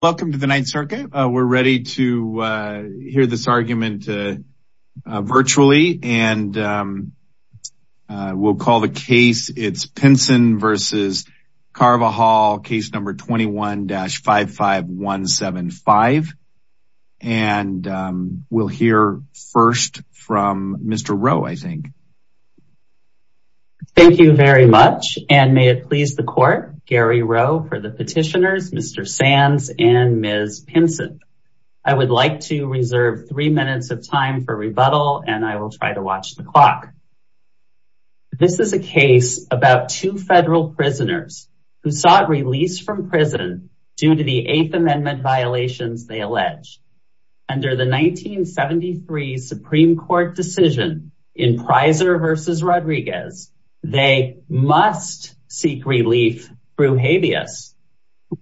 Welcome to the Ninth Circuit. We're ready to hear this argument virtually and we'll call the case. It's Pinson v. Carvajal, case number 21-55175. And we'll hear first from Mr. Rowe, I think. Thank you very much. And may it please the court, Mr. Rowe and Ms. Pinson. I would like to reserve three minutes of time for rebuttal and I will try to watch the clock. This is a case about two federal prisoners who sought release from prison due to the Eighth Amendment violations they allege. Under the 1973 Supreme Court decision in Prizer v. Rodriguez, they must seek relief through habeas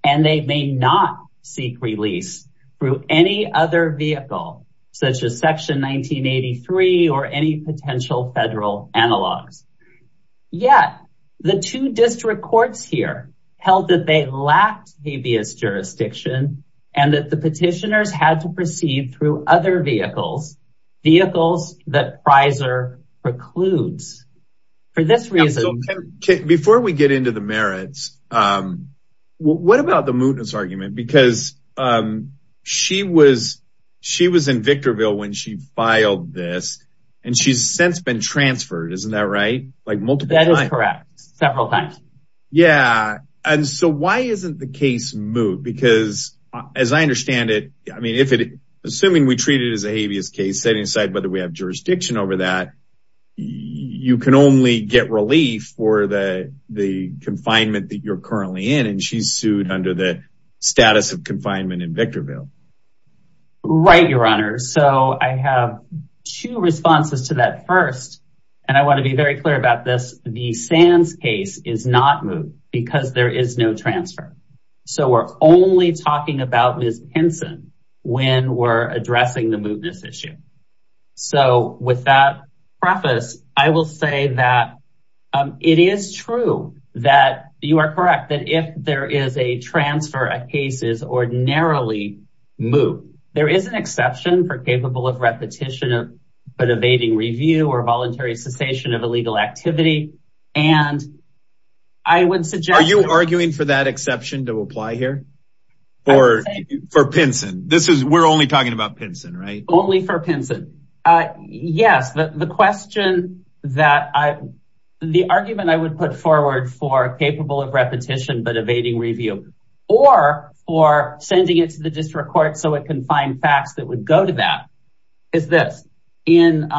and they may not seek release through any other vehicle, such as Section 1983 or any potential federal analogs. Yet, the two district courts here held that they lacked habeas jurisdiction and that the petitioners had to proceed through other vehicles, vehicles that Prizer precludes. Before we get into the merits, what about the mootness argument? Because she was in Victorville when she filed this and she's since been transferred, isn't that right? Like multiple times. That is correct, several times. And so why isn't the case moot? Because as I understand it, I mean, if it, assuming we treat it as a habeas case, setting aside whether we have jurisdiction over that, you can only get relief for the confinement that you're currently in. And she's sued under the status of confinement in Victorville. Right, Your Honor. So I have two responses to that first. And I want to be very clear about this. The Sands case is not moot because there is no transfer. So we're only talking about Ms. Henson when we're addressing the mootness issue. So with that preface, I will say that it is true that you are correct that if there is a transfer, a case is ordinarily moot. There is an exception for capable of repetition of evading review or voluntary cessation of illegal activity. And I would Are you arguing for that exception to apply here or for Pinson? This is we're only talking about Pinson, right? Only for Pinson. Yes. The question that I the argument I would put forward for capable of repetition, but evading review or for sending it to the district court so it can find facts that would go to that is this in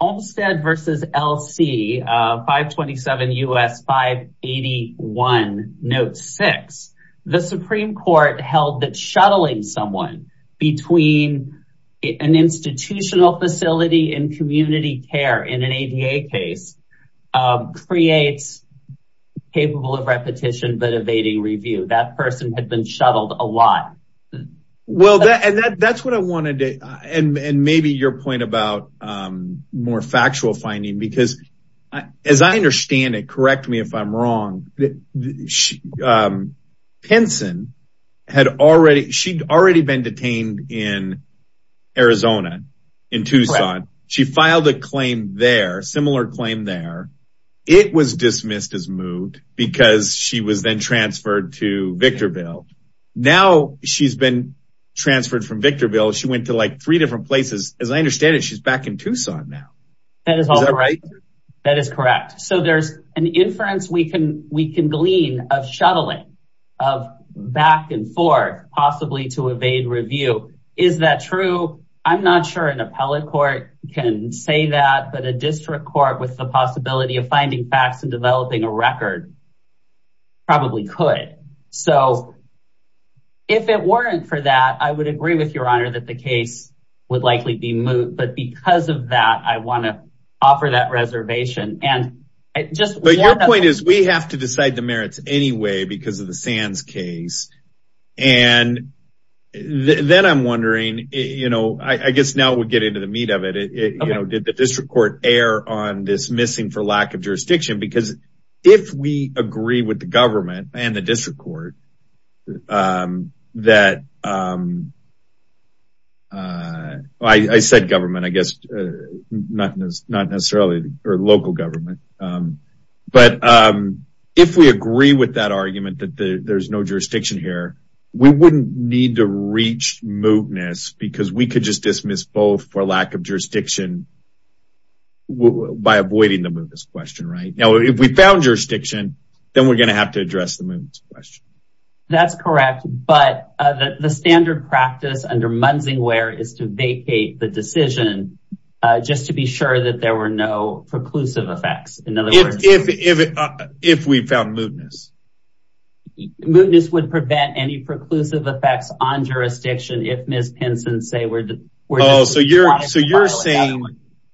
Olmstead versus LC 527 US 581 note six, the Supreme Court held that shuttling someone between an institutional facility and community care in an ADA case creates capable of repetition but evading review that person had been shuttled a lot. Well, that and that that's what I wanted to and maybe your point about more factual finding because as I understand it, correct me if I'm wrong. Pinson had already she'd already been detained in Arizona, in Tucson. She filed a claim there claim there. It was dismissed as moved because she was then transferred to Victorville. Now she's been transferred from Victorville. She went to like three different places. As I understand it, she's back in Tucson now. That is all right. That is correct. So there's an inference we can we can glean of shuttling of back and forth possibly to evade review. Is that true? I'm with the possibility of finding facts and developing a record. Probably could. So if it weren't for that, I would agree with your honor that the case would likely be moved. But because of that, I want to offer that reservation. And I just point is we have to decide the merits anyway, because of the sands case. And then I'm wondering, you know, I guess now we'll get into the meat of it. You know, did the district court err on this missing for lack of jurisdiction? Because if we agree with the government and the district court that I said government, I guess, not not necessarily or local government. But if we agree with that argument that there's no jurisdiction here, we wouldn't need to reach mootness because we could just dismiss both for lack of jurisdiction by avoiding the mootness question, right? Now, if we found jurisdiction, then we're going to have to address the mootness question. That's correct. But the standard practice under Munsingware is to vacate the decision just to be sure that there were no preclusive effects. In other words, if we found mootness, mootness would prevent any say we're so you're so you're saying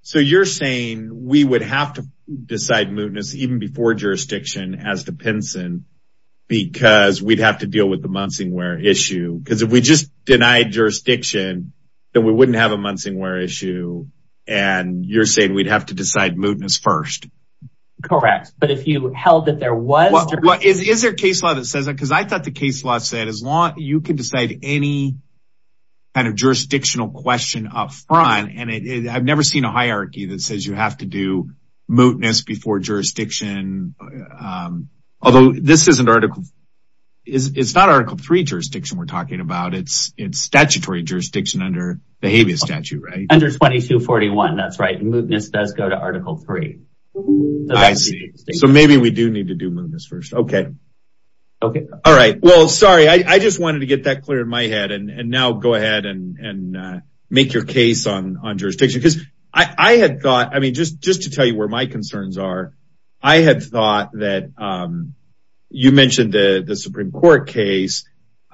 so you're saying we would have to decide mootness even before jurisdiction as the pension because we'd have to deal with the Munsingware issue because if we just denied jurisdiction, then we wouldn't have a Munsingware issue. And you're saying we'd have to decide mootness first. Correct. But if you held that there was what is their case law because I thought the case law said as long as you can decide any kind of jurisdictional question up front and I've never seen a hierarchy that says you have to do mootness before jurisdiction. Although this is an article. It's not Article 3 jurisdiction we're talking about. It's it's statutory jurisdiction under the habeas statute, right? Under 2241. That's right. Mootness does go to Article 3. I see. So maybe we do need to do this first. OK. All right. Well, sorry. I just wanted to get that clear in my head. And now go ahead and make your case on on jurisdiction because I had thought I mean, just just to tell you where my concerns are. I had thought that you mentioned the Supreme Court case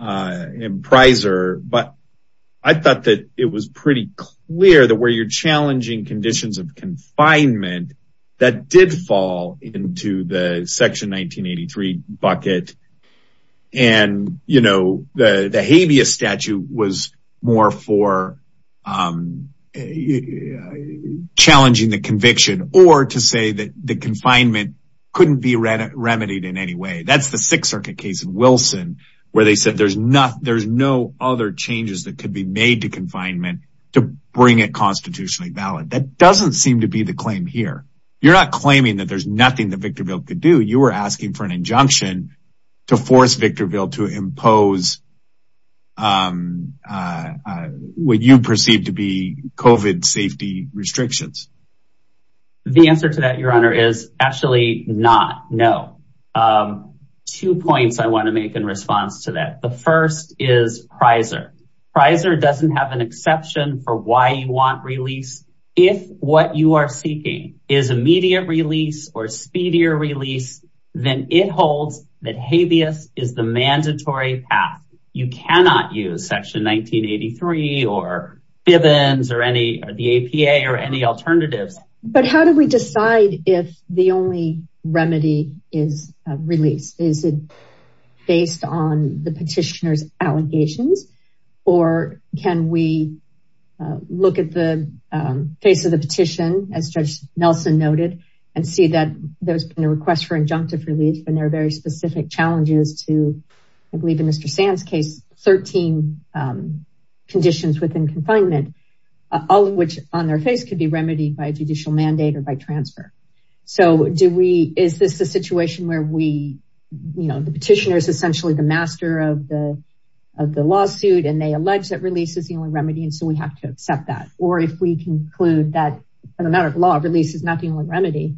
in Prizer, but I thought that it was pretty clear that where you're challenging conditions of confinement that did fall into the 1983 bucket. And, you know, the habeas statute was more for challenging the conviction or to say that the confinement couldn't be remedied in any way. That's the Sixth Circuit case in Wilson where they said there's not there's no other changes that could be made to confinement to bring it constitutionally valid. That doesn't seem to be the claim here. You're not claiming that there's nothing that Victorville could do. You were asking for an injunction to force Victorville to impose what you perceive to be COVID safety restrictions. The answer to that, Your Honor, is actually not. No. Two points I want to make in response to that. The first is Prizer. Prizer doesn't have an exception for why you want release if what you are seeking is immediate release or speedier release, then it holds that habeas is the mandatory path. You cannot use Section 1983 or Bivens or the APA or any alternatives. But how do we decide if the only remedy is release? Is it based on the petitioner's allegations or can we look at the face of the petition, as Judge Nelson noted, and see that there's been a request for injunctive relief and there are very specific challenges to, I believe in Mr. Sand's case, 13 conditions within confinement, all of which on their face could be remedied by a judicial mandate or by transfer. Is this a situation where the petitioner is essentially the master of the or if we conclude that in a matter of law, release is not the only remedy,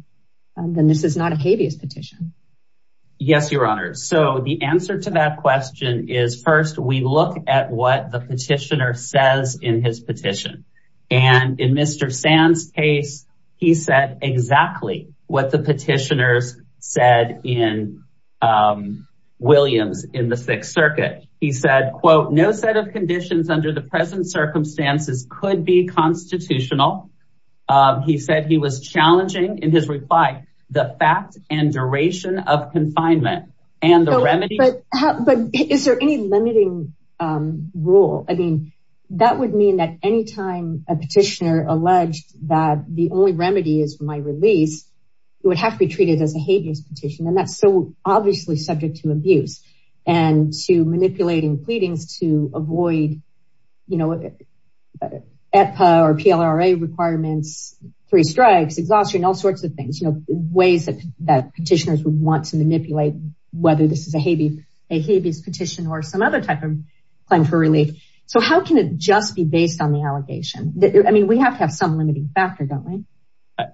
then this is not a habeas petition. Yes, Your Honor. So the answer to that question is first, we look at what the petitioner says in his petition. And in Mr. Sand's case, he said exactly what the petitioners said in Williams in the Sixth Circuit. He said, quote, no set of conditions under the present circumstances could be constitutional. He said he was challenging in his reply, the fact and duration of confinement and the remedy. But is there any limiting rule? I mean, that would mean that anytime a petitioner alleged that the only remedy is my release, it would have to be treated as a habeas petition. And that's so to avoid, you know, or PLRA requirements, three strikes, exhaustion, all sorts of things, ways that that petitioners would want to manipulate, whether this is a habeas petition or some other type of claim for relief. So how can it just be based on the allegation? I mean, we have to have some limiting factor, don't we?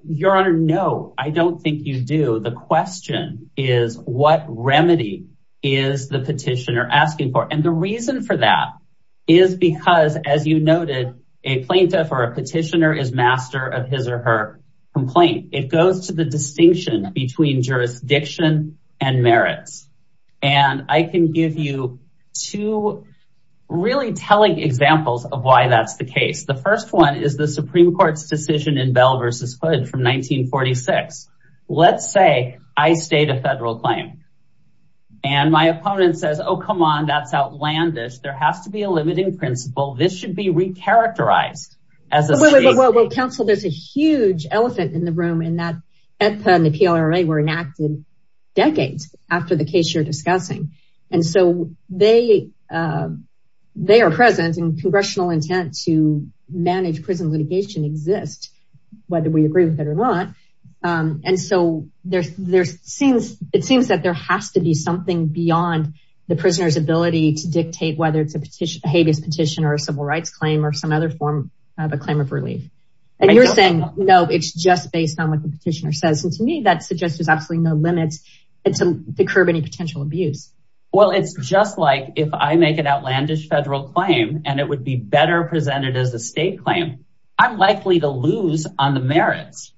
Your Honor, no, I don't think you do. The question is what remedy is the petitioner asking for? And the reason for that is because, as you noted, a plaintiff or a petitioner is master of his or her complaint. It goes to the distinction between jurisdiction and merits. And I can give you two really telling examples of why that's the case. The first one is the Supreme Court's decision in Bell versus Hood from 1946. Let's say I state a federal claim. And my opponent says, oh, come on, that's outlandish. There has to be a limiting principle. This should be re-characterized. Well, counsel, there's a huge elephant in the room in that EPA and the PLRA were enacted decades after the case you're discussing. And so they are present and congressional intent to agree with it or not. And so it seems that there has to be something beyond the prisoner's ability to dictate whether it's a habeas petition or a civil rights claim or some other form of a claim of relief. And you're saying, no, it's just based on what the petitioner says. And to me, that suggests there's absolutely no limits to curb any potential abuse. Well, it's just like if I make an outlandish federal claim and it would be better presented as a state claim, I'm likely to lose on the merits,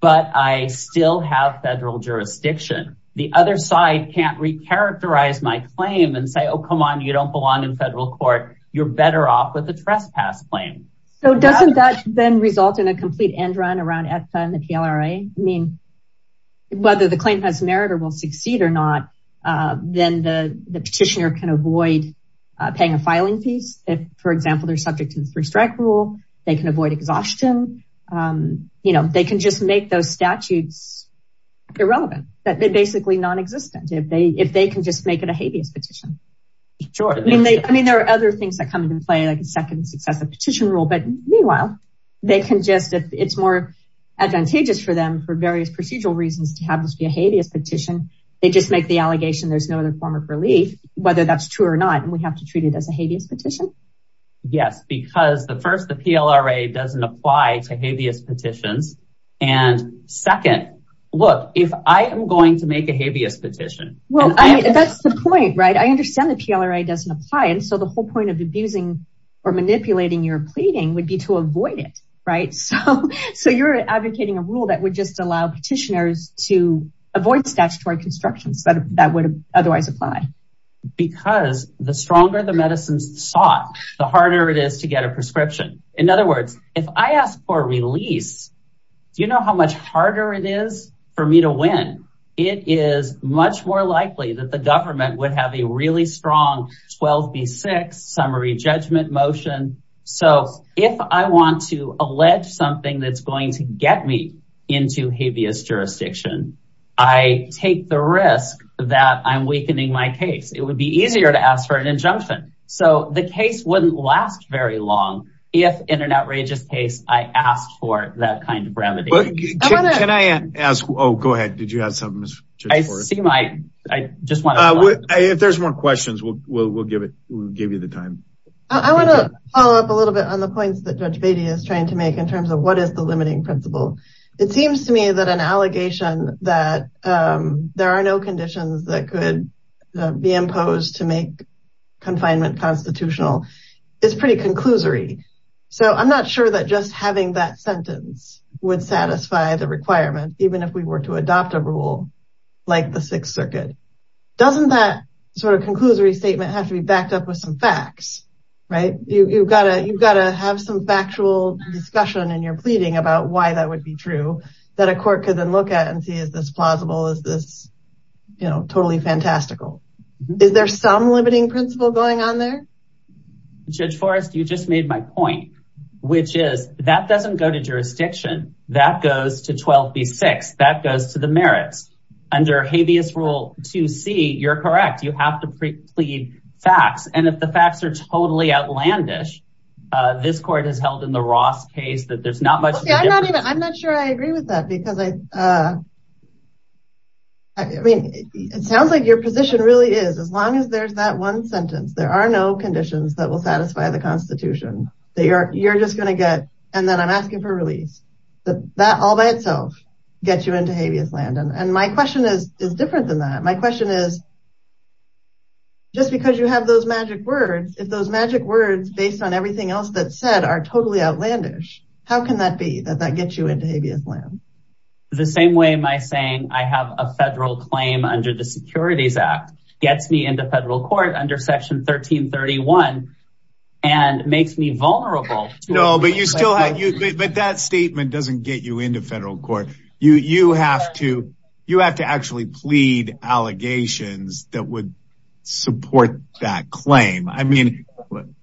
but I still have federal jurisdiction. The other side can't re-characterize my claim and say, oh, come on, you don't belong in federal court. You're better off with a trespass claim. So doesn't that then result in a complete end run around EPA and the PLRA? I mean, whether the claim has merit or will succeed or not, then the petitioner can avoid paying a filing fees. If for example, they're subject to the three-strike rule, they can avoid exhaustion. They can just make those statutes irrelevant. They're basically non-existent if they can just make it a habeas petition. I mean, there are other things that come into play like a second successive petition rule, but meanwhile, they can just, if it's more advantageous for them for various procedural reasons to have this be a habeas petition, they just make the allegation there's no other form of relief, whether that's true or not. And we have to treat it as a habeas petition? Yes, because the first, the PLRA doesn't apply to habeas petitions. And second, look, if I am going to make a habeas petition. Well, that's the point, right? I understand the PLRA doesn't apply. And so the whole point of abusing or manipulating your pleading would be to avoid it, right? So you're advocating a rule that would just allow petitioners to avoid statutory constructions that would otherwise apply. Because the stronger the medicines sought, the harder it is to get a prescription. In other words, if I ask for release, do you know how much harder it is for me to win? It is much more likely that the government would have a really strong 12 v. 6 summary judgment motion. So if I want to allege something that's get me into habeas jurisdiction, I take the risk that I'm weakening my case, it would be easier to ask for an injunction. So the case wouldn't last very long. If in an outrageous case, I asked for that kind of brevity. Can I ask? Oh, go ahead. Did you have something? I see my I just want if there's more questions, we'll we'll give it we'll give you the time. I want to follow up a principle. It seems to me that an allegation that there are no conditions that could be imposed to make confinement constitutional is pretty conclusory. So I'm not sure that just having that sentence would satisfy the requirement, even if we were to adopt a rule, like the Sixth Circuit, doesn't that sort of conclusory statement have to be backed up with facts? Right? You've got to you've got to have some factual discussion in your pleading about why that would be true, that a court could then look at and see is this plausible? Is this, you know, totally fantastical? Is there some limiting principle going on there? Judge Forrest, you just made my point, which is that doesn't go to jurisdiction, that goes to 12 v. 6, that goes to the merits. Under habeas rule 2c, you're correct, you have to plead facts. And if the facts are totally outlandish, this court has held in the Ross case that there's not much. I'm not sure I agree with that. Because I mean, it sounds like your position really is as long as there's that one sentence, there are no conditions that will satisfy the Constitution that you're you're just going to get and then I'm asking for release. That all by is different than that. My question is, just because you have those magic words, if those magic words based on everything else that said are totally outlandish, how can that be that that gets you into habeas land? The same way my saying I have a federal claim under the Securities Act gets me into federal court under section 1331. And makes me vulnerable. No, but you still have but that statement doesn't get you into federal court. You you have to, you have to actually plead allegations that would support that claim. I mean,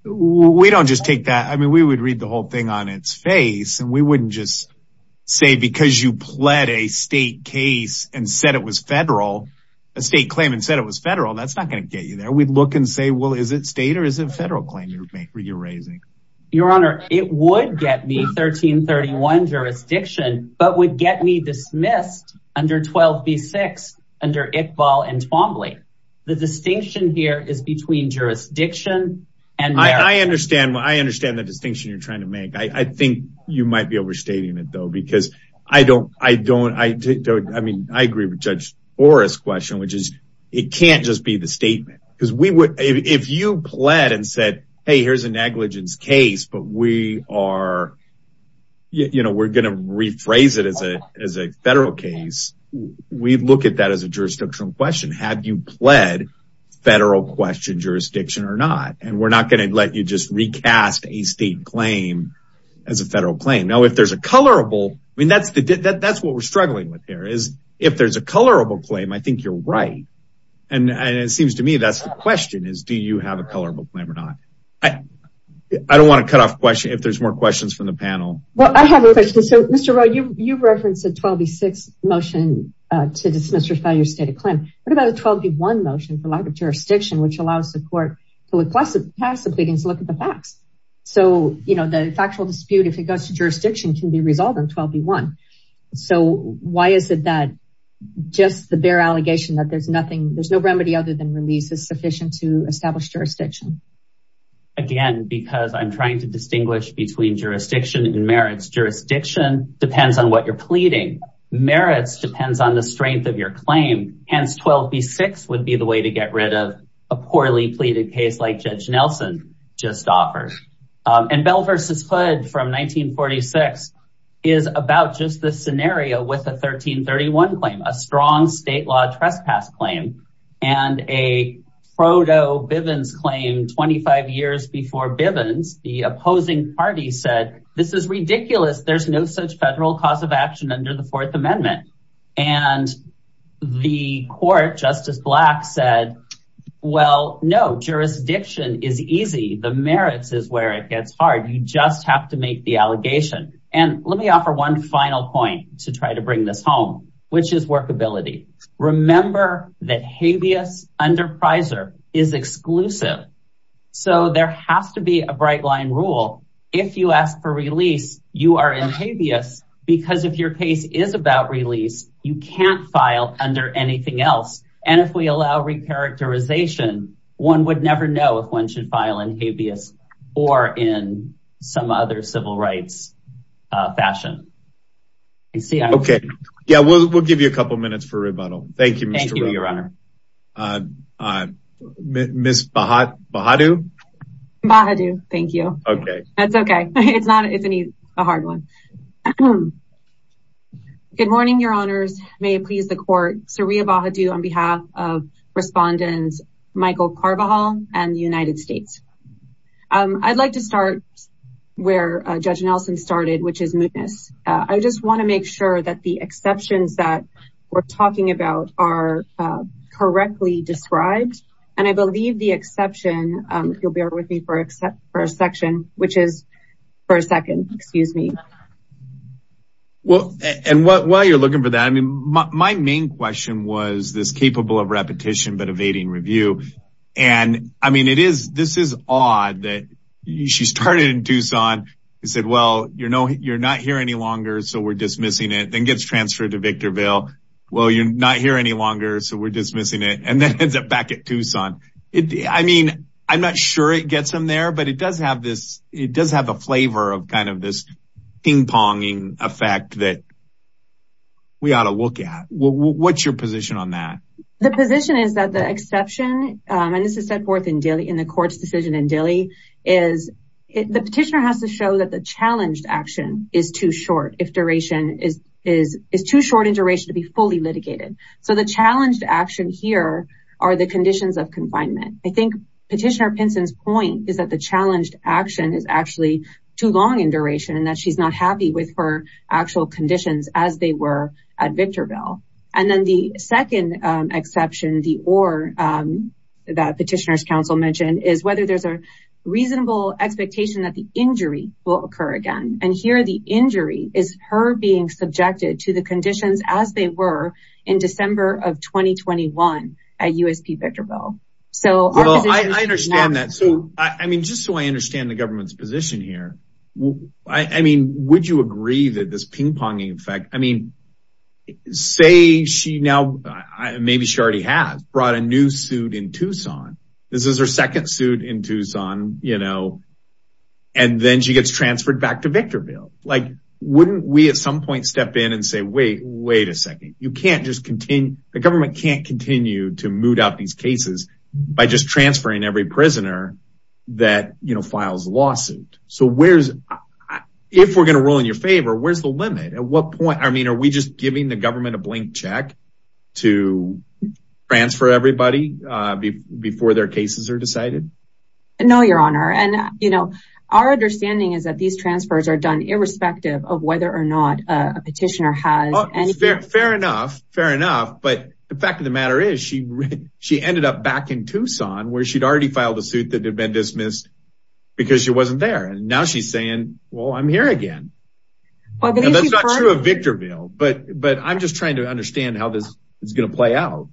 we don't just take that. I mean, we would read the whole thing on its face. And we wouldn't just say because you pled a state case and said it was federal, a state claim and said it was federal, that's not going to get you there. We'd look and say, well, is it state or is it federal claim you're raising? Your Honor, it would get me 1331 jurisdiction, but would get me dismissed under 12 v six under Iqbal and Twombly. The distinction here is between jurisdiction. And I understand what I understand the distinction you're trying to make. I think you might be overstating it, though, because I don't I don't I don't. I mean, I agree with Judge Forrest question, which is it can't just be the statement because we would if you pled and said, hey, here's a negligence case, but we are you know, we're going to rephrase it as a as a federal case. We look at that as a jurisdictional question. Have you pled federal question jurisdiction or not? And we're not going to let you just recast a state claim as a federal claim. Now, if there's a colorable, I mean, that's that's what we're struggling with here is if there's a colorable claim, I think you're right. And it seems to me that's the question is, do you have a colorable claim or not? I don't want to cut off question if there's more questions from the panel. Well, I have a question. So, Mr. Rowe, you referenced a 12 v six motion to dismiss your failure state of claim. What about a 12 v one motion for lack of jurisdiction, which allows the court to request pass the pleadings, look at the facts. So, you know, the factual dispute, if it goes to jurisdiction, can be resolved in 12 v one. So why is it that just the bare allegation that there's nothing there's no remedy other than release is sufficient to establish jurisdiction? Again, because I'm trying to distinguish between jurisdiction and merits. Jurisdiction depends on what you're pleading. Merits depends on the strength of your claim. Hence, 12 v six would be the way to get rid of a poorly pleaded case like Judge Nelson just offers. And Bell versus Hood from 1946 is about just the scenario with a 1331 claim, a strong state law trespass claim, and a proto Bivens claim 25 years before Bivens, the opposing party said, This is ridiculous. There's no such federal cause of action under the Fourth Amendment. And the court Justice Black said, Well, no, jurisdiction is easy. The merits is where it gets hard. You just have to make the allegation. And let me offer one final point to try to bring this home, which is workability. Remember that habeas under Priser is exclusive. So there has to be a bright line rule. If you ask for release, you are in habeas. Because if your case is about release, you can't file under anything else. And if we allow recharacterization, one would never know if one should file in habeas or in some other civil rights fashion. Okay, yeah, we'll give you a couple minutes for rebuttal. Thank you. Miss Bahadu. Bahadu, thank you. Okay, that's okay. It's not it's a hard one. Good morning, Your Honors. May it please the court. Saria Bahadu on behalf of respondents, Michael Carvajal and the United States. I'd like to start where Judge Nelson started, which is mootness. I just want to make sure that the exceptions that we're talking about are correctly described. And I believe the exception, you'll bear with me for except for a section, which is for a second, excuse me. Well, and while you're looking for that, I mean, my main question was this capable of repetition, but evading review. And I mean, it is this is odd that she started in Tucson. He said, Well, you're not here any longer. So we're dismissing it then gets transferred to Victorville. Well, you're not here any longer. So we're dismissing it and then ends up back at Tucson. It I mean, I'm not sure it gets them there. But it does have a flavor of kind of this ping ponging effect that we ought to look at. What's your position on that? The position is that the exception and this is set forth in Dilley in the court's decision in Dilley is the petitioner has to show that the challenged action is too short if duration is too short in duration to be fully litigated. So the challenged action here are the conditions of confinement. I think petitioner Pinson's point is that the challenged action is actually too long in duration and that she's not happy with her actual conditions as they were at Victorville. And then the second exception the or that petitioners council mentioned is whether there's a reasonable expectation that the injury will occur again. And here the injury is her being subjected to conditions as they were in December of 2021 at USP Victorville. So I understand that. So I mean, just so I understand the government's position here. I mean, would you agree that this ping ponging effect? I mean, say she now maybe she already has brought a new suit in Tucson. This is her second suit in Tucson, you know, and then she gets transferred back to Victorville. Like wait a second. You can't just continue. The government can't continue to moot out these cases by just transferring every prisoner that, you know, files lawsuit. So where's if we're going to roll in your favor, where's the limit? At what point? I mean, are we just giving the government a blank check to transfer everybody before their cases are decided? No, your honor. And, you know, our understanding is that these transfers are done irrespective of whether or not a petitioner fair enough. Fair enough. But the fact of the matter is she she ended up back in Tucson where she'd already filed a suit that had been dismissed because she wasn't there. And now she's saying, well, I'm here again. Well, that's not true of Victorville, but but I'm just trying to understand how this is going to play out.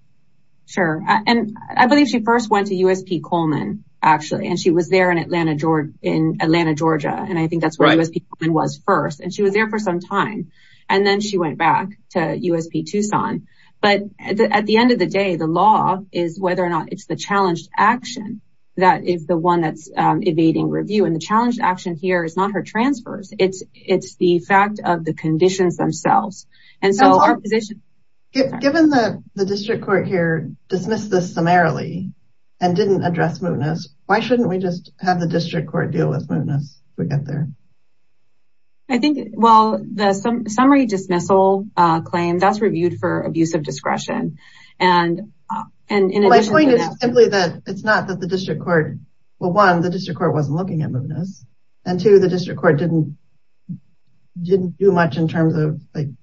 Sure. And I believe she first went to USP Coleman, actually, and she was there in Atlanta, Georgia, in Atlanta, Georgia. And I think that's what I was thinking was first. She was there for some time and then she went back to USP Tucson. But at the end of the day, the law is whether or not it's the challenged action that is the one that's evading review. And the challenge action here is not her transfers. It's it's the fact of the conditions themselves. And so our position, given that the district court here dismissed this summarily and didn't address mootness. Why shouldn't we just have the district court deal with it? I think, well, the summary dismissal claim that's reviewed for abuse of discretion. And and my point is simply that it's not that the district court. Well, one, the district court wasn't looking at mootness and to the district court didn't didn't do much in terms of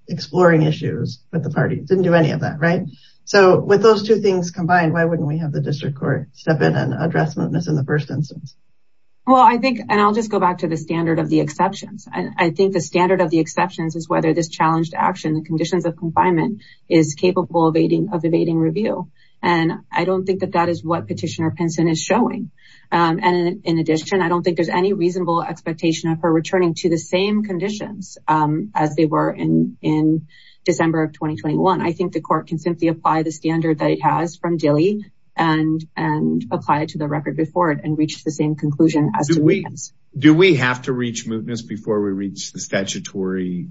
exploring issues with the party. Didn't do any of that. Right. So with those two things combined, why wouldn't we have the district court step in and address mootness in the first instance? Well, I think and I'll just go back to the standard of the exceptions. I think the standard of the exceptions is whether this challenged action, the conditions of confinement is capable of evading of evading review. And I don't think that that is what Petitioner Pinson is showing. And in addition, I don't think there's any reasonable expectation of her returning to the same conditions as they were in in December of 2021. I think the court can simply apply the conclusion. Do we have to reach mootness before we reach the statutory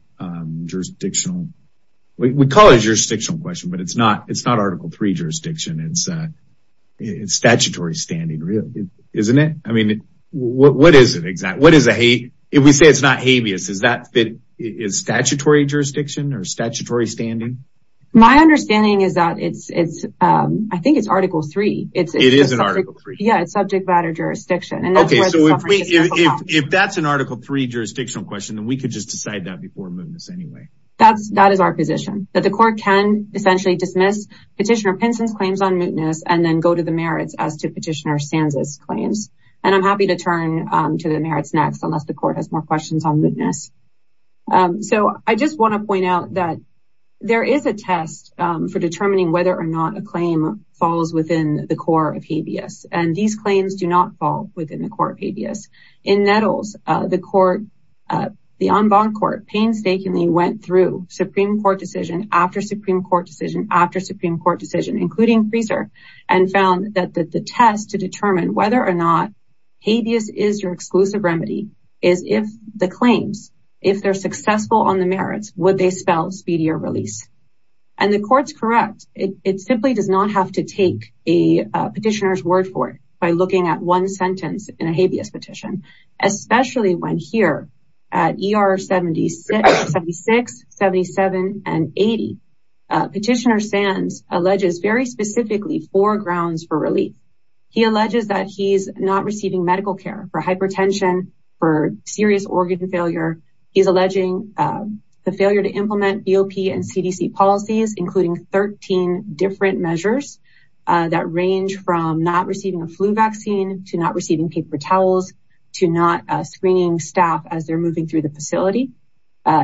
jurisdictional? We call it jurisdictional question, but it's not. It's not Article three jurisdiction. It's statutory standing, isn't it? I mean, what is it exactly? What is it? If we say it's not habeas, is that it is statutory jurisdiction or statutory standing? My understanding is that it's it's yeah, it's subject matter jurisdiction. Okay, so if that's an Article three jurisdictional question, then we could just decide that before mootness anyway. That's that is our position that the court can essentially dismiss Petitioner Pinson's claims on mootness and then go to the merits as to Petitioner Sanza's claims. And I'm happy to turn to the merits next unless the court has more questions on mootness. So I just want to point out that there is a test for determining whether or not a claim falls within the core of habeas. And these claims do not fall within the core of habeas. In Nettles, the court, the en banc court painstakingly went through Supreme Court decision after Supreme Court decision after Supreme Court decision, including freezer, and found that the test to determine whether or not habeas is your exclusive remedy is if the claims if they're successful on the merits, would they spell speedier release? And the court's correct. It simply does not have to take a petitioner's word for it by looking at one sentence in a habeas petition, especially when here at ER 76, 77 and 80. Petitioner Sanz alleges very specifically four grounds for relief. He alleges that he's not receiving medical care for hypertension, for serious organ failure. He's alleging the failure to implement BOP and CDC policies, including 13 different measures that range from not receiving a flu vaccine to not receiving paper towels, to not screening staff as they're moving through the facility.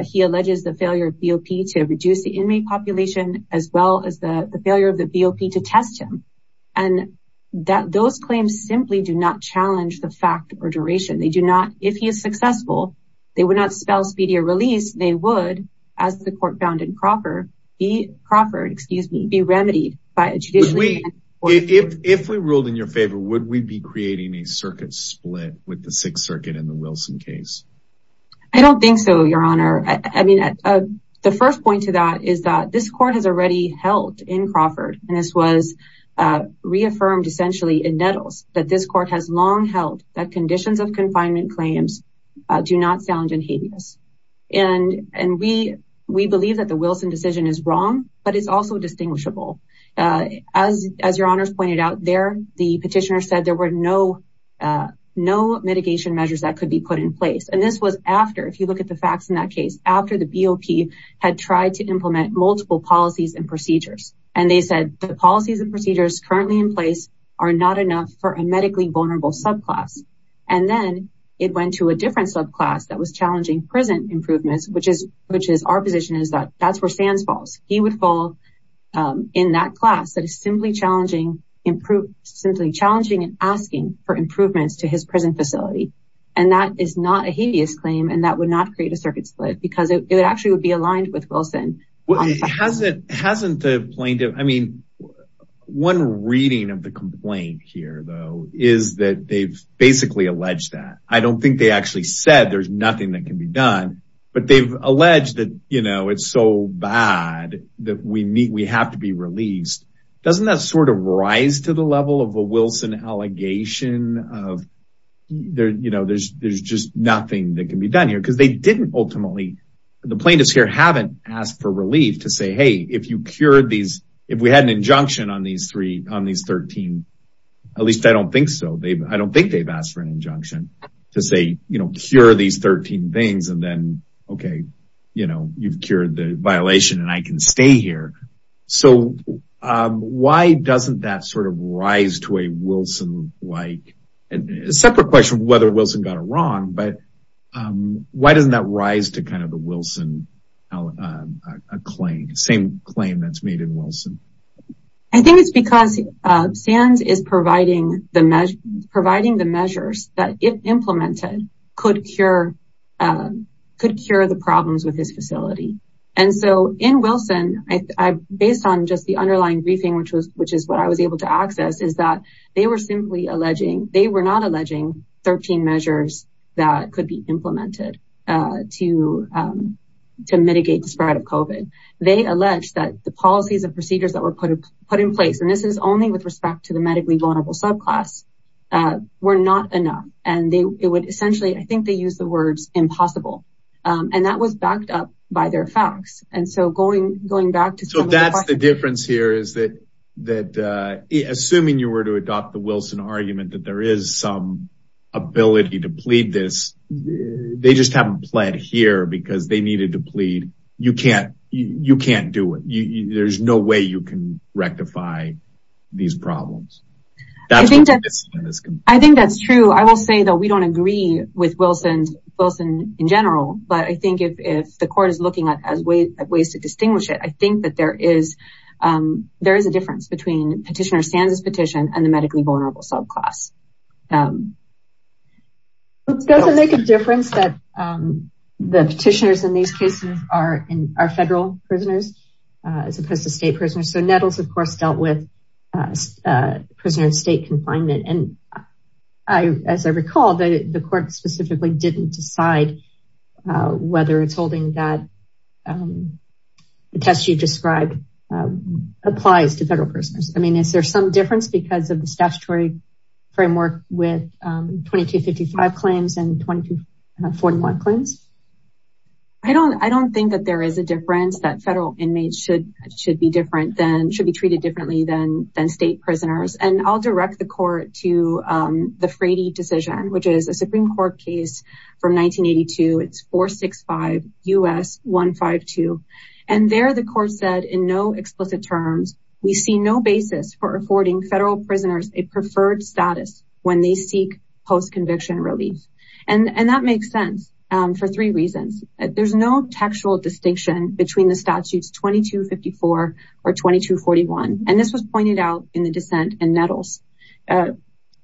He alleges the failure of BOP to reduce the inmate population as well as the failure of the BOP to test him. And those claims simply do not challenge the fact or duration. They do not, if he is successful, they would not spell speedier release. They would, as the court found in Crawford, excuse me, be remedied by a judicially. If we ruled in your favor, would we be creating a circuit split with the Sixth Circuit in the Wilson case? I don't think so, your honor. I mean, the first point to that is that this court has already held in Crawford, and this was reaffirmed essentially in Nettles, that this court has long held that conditions of confinement claims do not sound inhabeous. And we believe that the Wilson decision is wrong, but it's also distinguishable. As your honors pointed out there, the petitioner said there were no mitigation measures that could be put in place. And this was after, if you look at the facts in that case, after the BOP had tried to implement multiple policies and procedures. And they said the policies and procedures currently in place are not enough for a medically vulnerable subclass. And then it went to a different subclass that was challenging prison improvements, which is our position is that that's where Sands falls. He would fall in that class that is simply challenging and asking for improvements to his prison facility. And that is not a habeas claim, and that would not create a with Wilson. Hasn't the plaintiff, I mean, one reading of the complaint here though, is that they've basically alleged that. I don't think they actually said there's nothing that can be done, but they've alleged that, you know, it's so bad that we meet, we have to be released. Doesn't that sort of rise to the level of a Wilson allegation of there, you know, there's just nothing that can be done here because they didn't ultimately, the plaintiffs here haven't asked for relief to say, Hey, if you cured these, if we had an injunction on these three, on these 13, at least I don't think so. They've, I don't think they've asked for an injunction to say, you know, cure these 13 things and then, okay, you know, you've cured the violation and I can stay here. So why doesn't that sort of rise to a Wilson, like a separate question of whether Wilson got it wrong, but why doesn't that rise to kind of the Wilson claim, same claim that's made in Wilson? I think it's because SANS is providing the measures that if implemented could cure the problems with this facility. And so in Wilson, I, based on just the underlying briefing, which was, which is what I was able to access is that they were simply alleging, they were not alleging 13 measures that could be implemented to, to mitigate the spread of COVID. They alleged that the policies and procedures that were put in place, and this is only with respect to the medically vulnerable subclass, were not enough. And they, it would essentially, I think they use the words impossible. And that was backed up by their facts. And so going, going back to, so that's the difference here is that, that assuming you were to adopt the Wilson argument that there is some ability to plead this, they just haven't pled here because they needed to plead. You can't, you can't do it. You, there's no way you can rectify these problems. I think that's true. I will say though, we don't agree with Wilson, Wilson in general, but I think if, if the court is looking at as ways, ways to distinguish it, I think that there is, there is a difference between petitioner stands as petition and the medically vulnerable subclass. Doesn't make a difference that the petitioners in these cases are in our federal prisoners, as opposed to state prisoners. So Nettles of course dealt with prisoner in state confinement. And I, as I recall that the court specifically didn't decide whether it's holding that the test you described applies to federal prisoners. I mean, is there some difference because of the statutory framework with 2255 claims and 2241 claims? I don't, I don't think that there is a difference that federal inmates should, should be different than, should be treated differently than, than state prisoners. And I'll direct the court to the Frady decision, which is a Supreme court case from 1982. It's 465 U.S. 152. And there, the court said in no explicit terms, we see no basis for affording federal prisoners a preferred status when they seek post-conviction relief. And that makes sense for three reasons. There's no textual distinction between the statutes 2254 or 2241. And this was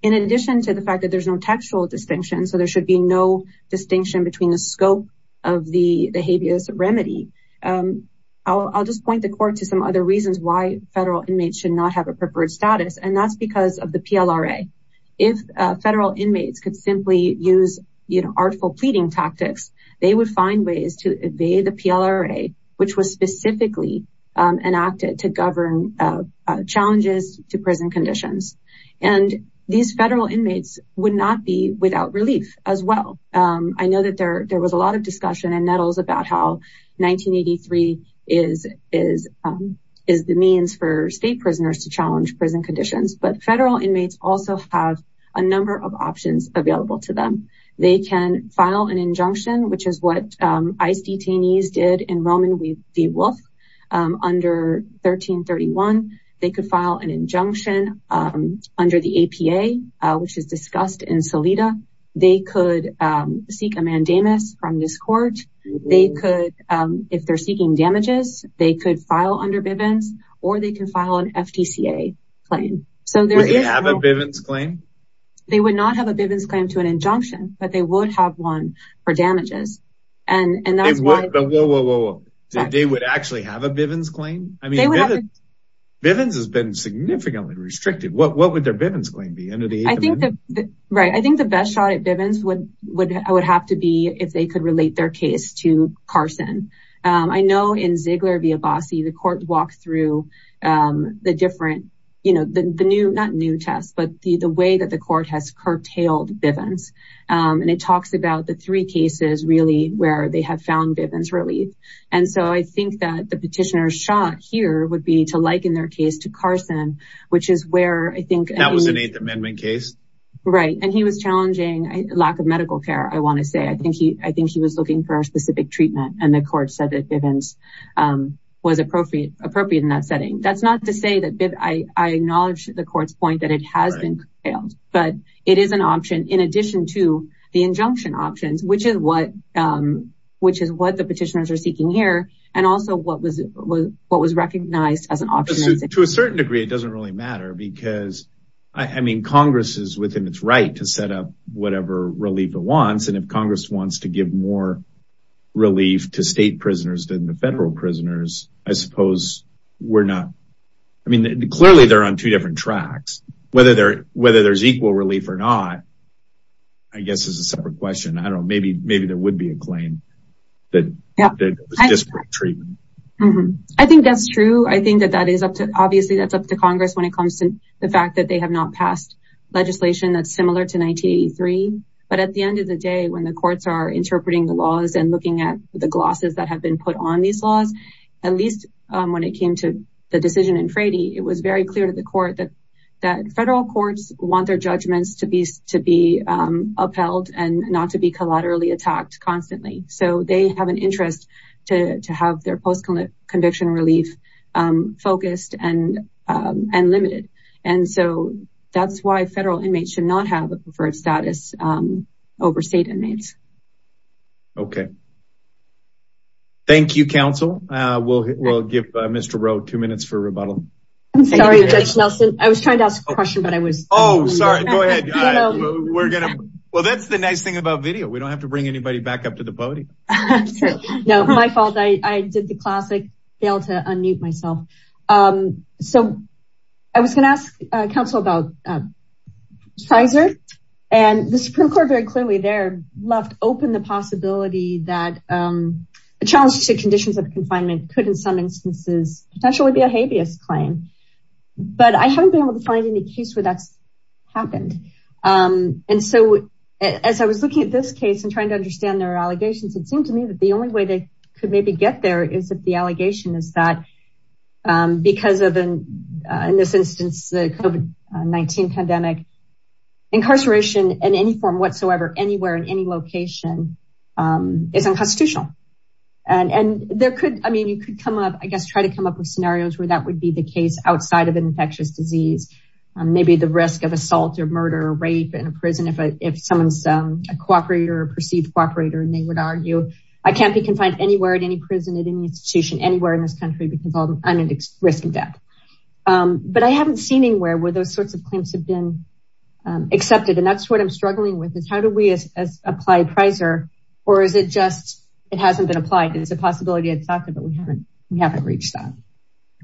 in addition to the fact that there's no textual distinction. So there should be no distinction between the scope of the habeas remedy. I'll just point the court to some other reasons why federal inmates should not have a preferred status. And that's because of the PLRA. If federal inmates could simply use, you know, artful pleading tactics, they would find ways to evade the PLRA, which was specifically enacted to govern challenges to prison conditions. And these federal inmates would not be without relief as well. I know that there, there was a lot of discussion in Nettles about how 1983 is, is, is the means for state prisoners to challenge prison conditions, but federal inmates also have a number of options available to them. They can file an injunction, which is what ICE detainees did in Roman v. Wolf under 1331. They could file an injunction under the APA, which is discussed in Salida. They could seek a mandamus from this court. They could, if they're seeking damages, they could file under Bivens or they can file an FTCA claim. So there is a Bivens claim. They would not have a Bivens claim to an injunction, but they would have one for damages. And, and that's what, they would actually have a Bivens claim. I mean, Bivens has been significantly restricted. What, what would their Bivens claim be under the APA? Right. I think the best shot at Bivens would, would, would have to be if they could relate their case to Carson. I know in Ziegler v. Abbasi, the court walked through the different, you know, the new, not new test, but the, the way that the court has curtailed Bivens. And it talks about the three cases really where they have found Bivens relief. And so I think that the petitioner's shot here would be to liken their case to Carson, which is where I think- That was an eighth amendment case. Right. And he was challenging lack of medical care. I want to say, I think he, I think he was looking for a specific treatment and the court said that Bivens was appropriate, appropriate in that setting. That's not to say that, I acknowledge the court's that it has been curtailed, but it is an option in addition to the injunction options, which is what, which is what the petitioners are seeking here. And also what was, what was recognized as an option. To a certain degree, it doesn't really matter because I mean, Congress is within its right to set up whatever relief it wants. And if Congress wants to give more relief to state prisoners than the federal prisoners, I suppose we're not, I mean, clearly they're on two different tracks. Whether there, whether there's equal relief or not, I guess is a separate question. I don't know. Maybe, maybe there would be a claim that it was disparate treatment. I think that's true. I think that that is up to, obviously that's up to Congress when it comes to the fact that they have not passed legislation that's similar to 1983. But at the end of the day, when the courts are interpreting the laws and looking at the glosses that have been put on these laws, at least when it came to the decision in Frady, it was very clear to the court that, that federal courts want their judgments to be, to be upheld and not to be collaterally attacked constantly. So they have an interest to have their post-conviction relief focused and, and limited. And so that's why federal inmates should not have a preferred status over state inmates. Okay. Thank you, counsel. We'll, we'll give Mr. Rowe two minutes for rebuttal. I'm sorry, Judge Nelson. I was trying to ask a question, but I was, Oh, sorry. Go ahead. We're going to, well, that's the nice thing about video. We don't have to bring anybody back up to the podium. No, my fault. I did the classic fail to unmute myself. So I was going to ask counsel about Pfizer and the Supreme Court very clearly there left open the possibility that a challenge to conditions of confinement could in some instances, potentially be a habeas claim, but I haven't been able to find any case where that's happened. And so as I was looking at this case and trying to understand their allegations, it seemed to me that the only way they could maybe get there is if the allegation is that because of, in this instance, the COVID-19 pandemic, incarceration in any form whatsoever, anywhere in any location is unconstitutional. And, and there could, I mean, you could come up, I guess, try to come up with scenarios where that would be the case outside of an infectious disease, maybe the risk of assault or murder or rape in a prison. If someone's a cooperator or perceived cooperator, and they would argue, I can't be confined anywhere at any prison at any institution anywhere in this country because I'm at risk of death. But I haven't seen anywhere where those sorts of claims have been accepted. And that's what I'm struggling with is how do we as apply Pfizer, or is it just, it hasn't been applied? It's a possibility I'd thought that we haven't, we haven't reached that.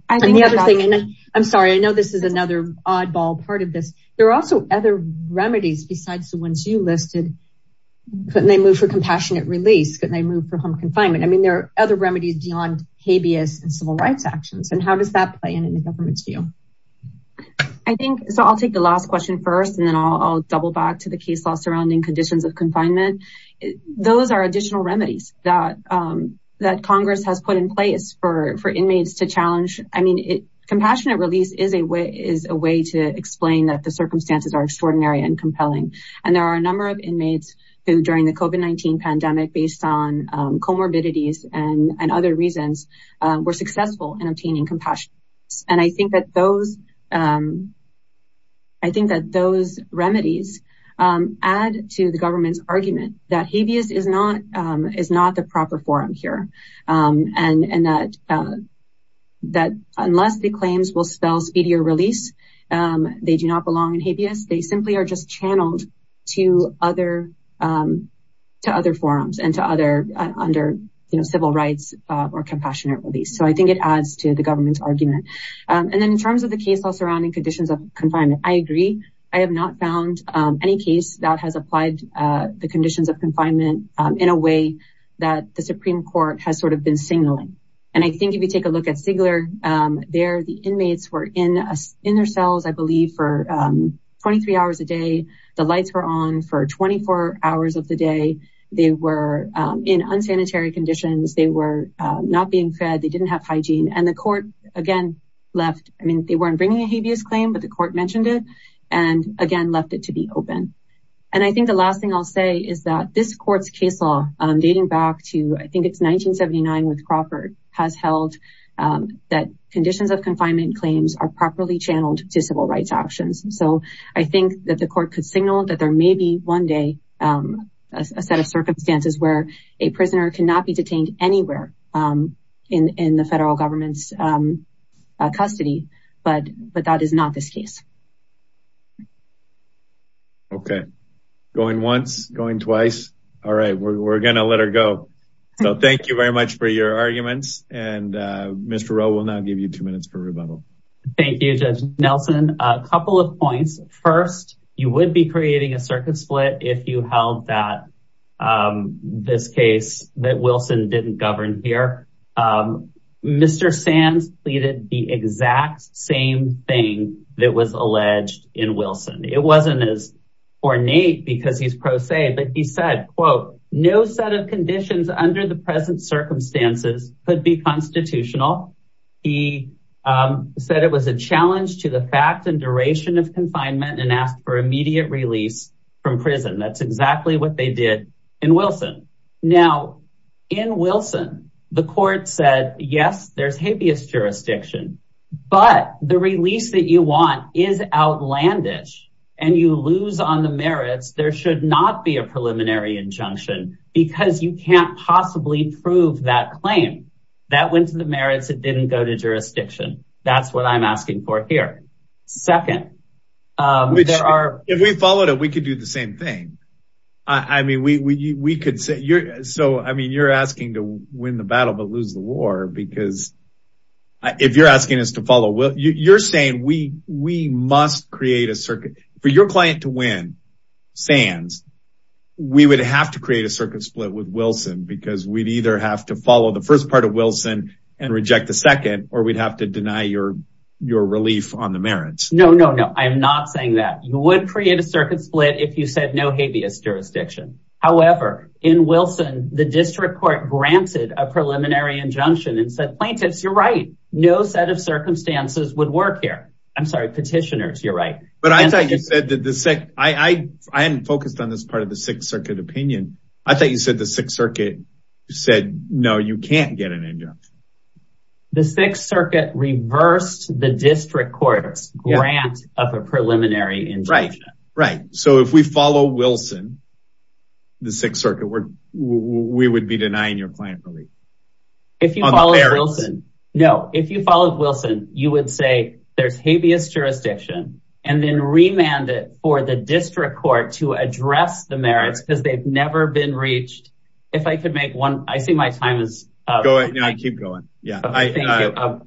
And the other thing, and I'm sorry, I know this is another oddball part of this. There are also other remedies besides the ones you listed. Couldn't they move for compassionate release? Couldn't they move for home confinement? I mean, there are other remedies beyond habeas and civil rights actions. And how does that play in the government's view? I think so. I'll take the last question first. And then I'll double back to the case law surrounding conditions of confinement. Those are additional remedies that Congress has put in place for inmates to challenge. I mean, compassionate release is a way to explain that the circumstances are extraordinary and compelling. And there are a number of inmates who during the COVID-19 pandemic based on comorbidities and other reasons were successful in obtaining compassion. And I think that those, I think that those remedies add to the government's argument that habeas is not the proper forum here. And that unless the claims will spell speedier release, they do not belong in habeas. They simply are just channeled to other forums and to other under civil rights or compassionate release. So I think it adds to the government's argument. And then in terms of the case law surrounding conditions of confinement, I agree. I have not found any case that has applied the conditions of confinement in a way that the Supreme Court has sort of been signaling. And I think if you take a look at Sigler, there the inmates were in their cells, I believe for 23 hours a day. The lights were on for 24 hours of the day. They were in unsanitary conditions. They were not being fed. They didn't have hygiene. And the court again left, I mean, they weren't bringing a habeas claim, but the court mentioned it and again, left it to be open. And I think the last thing I'll say is that this court's case law dating back to, I think it's 1979 with Crawford has held that conditions of confinement claims are properly channeled to civil rights actions. So I think that the court could signal that there may be one day a set of circumstances where a prisoner cannot be detained anywhere in the federal government's custody, but that is not this case. Okay, going once, going twice. All right, we're gonna let her go. So thank you very much for your arguments. And Mr. Rowe will now give you two minutes for rebuttal. Thank you, Judge Nelson. A couple of points. First, you would be creating a circuit split if you held that this case that Wilson didn't govern here. Mr. Sands pleaded the exact same thing that was alleged in Wilson. It wasn't as ornate because he's pro se, but he said, quote, no set of conditions under the present circumstances could be constitutional. He said it was a challenge to the fact and duration of confinement and asked for immediate release from prison. That's exactly what they did in Wilson. Now, in Wilson, the court said, yes, there's habeas jurisdiction, but the release that you want is outlandish and you lose on the merits. There should not be a preliminary injunction because you can't possibly prove that claim that went to the merits. It didn't go to jurisdiction. That's what I'm asking for here. Second, if we followed it, we could do the same thing. I mean, you're asking to win the battle, but lose the war because if you're asking us to follow, you're saying we must create a circuit for your client to win Sands. We would have to create a circuit split with Wilson because we'd have to follow the first part of Wilson and reject the second, or we'd have to deny your relief on the merits. No, no, no. I'm not saying that you would create a circuit split if you said no habeas jurisdiction. However, in Wilson, the district court granted a preliminary injunction and said, plaintiffs, you're right. No set of circumstances would work here. I'm sorry, petitioners. You're right. But I thought you said that I hadn't focused on this part of the Sixth Circuit said, no, you can't get an injunction. The Sixth Circuit reversed the district court's grant of a preliminary injunction. Right, right. So if we follow Wilson, the Sixth Circuit, we would be denying your client relief. If you follow Wilson, no, if you follow Wilson, you would say there's habeas jurisdiction and then remand it for the district court to address the merits because they've never been reached. If I could make one, I see my time is going. I keep going. Yeah.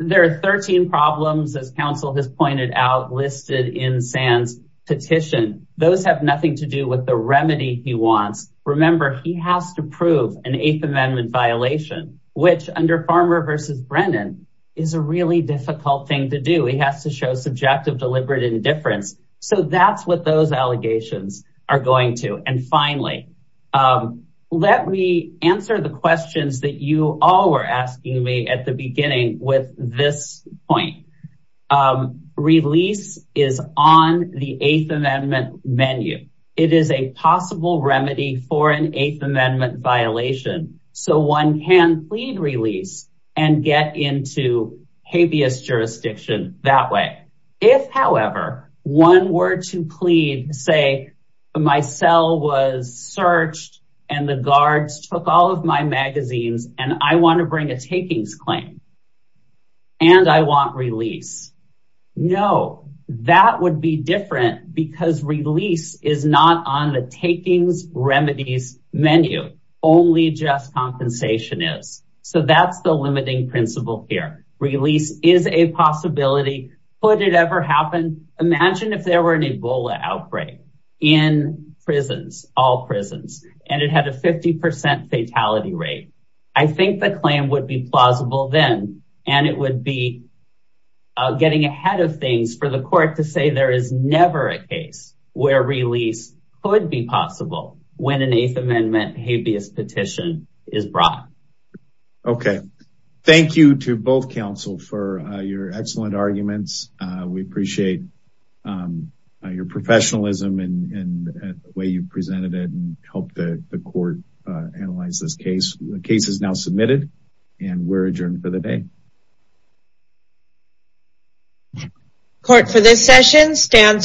There are 13 problems, as counsel has pointed out, listed in San's petition. Those have nothing to do with the remedy he wants. Remember, he has to prove an Eighth Amendment violation, which under Farmer versus Brennan is a really difficult thing to do. He has to show subjective deliberate indifference. So that's what those allegations are going to. And finally, let me answer the questions that you all were asking me at the beginning with this point. Release is on the Eighth Amendment menu. It is a possible remedy for an Eighth Amendment violation. So one can plead release and get into habeas jurisdiction that way. If, however, one were to plead, say, my cell was searched and the guards took all of my magazines and I want to bring a takings claim and I want release. No, that would be different because release is not on the takings remedies menu. Only just compensation is. So that's the limiting principle here. Release is a possibility. Could it ever happen? Imagine if there were an Ebola outbreak in prisons, all prisons, and it had a 50% fatality rate. I think the claim would be plausible then and it would be getting ahead of things for the court to say there is never a case where release could be possible when an Eighth Amendment habeas petition is brought. Okay, thank you to both counsel for your excellent arguments. We appreciate your professionalism and the way you presented it and helped the court analyze this case. The case is now submitted and we're adjourned for the day. Court for this session stands adjourned.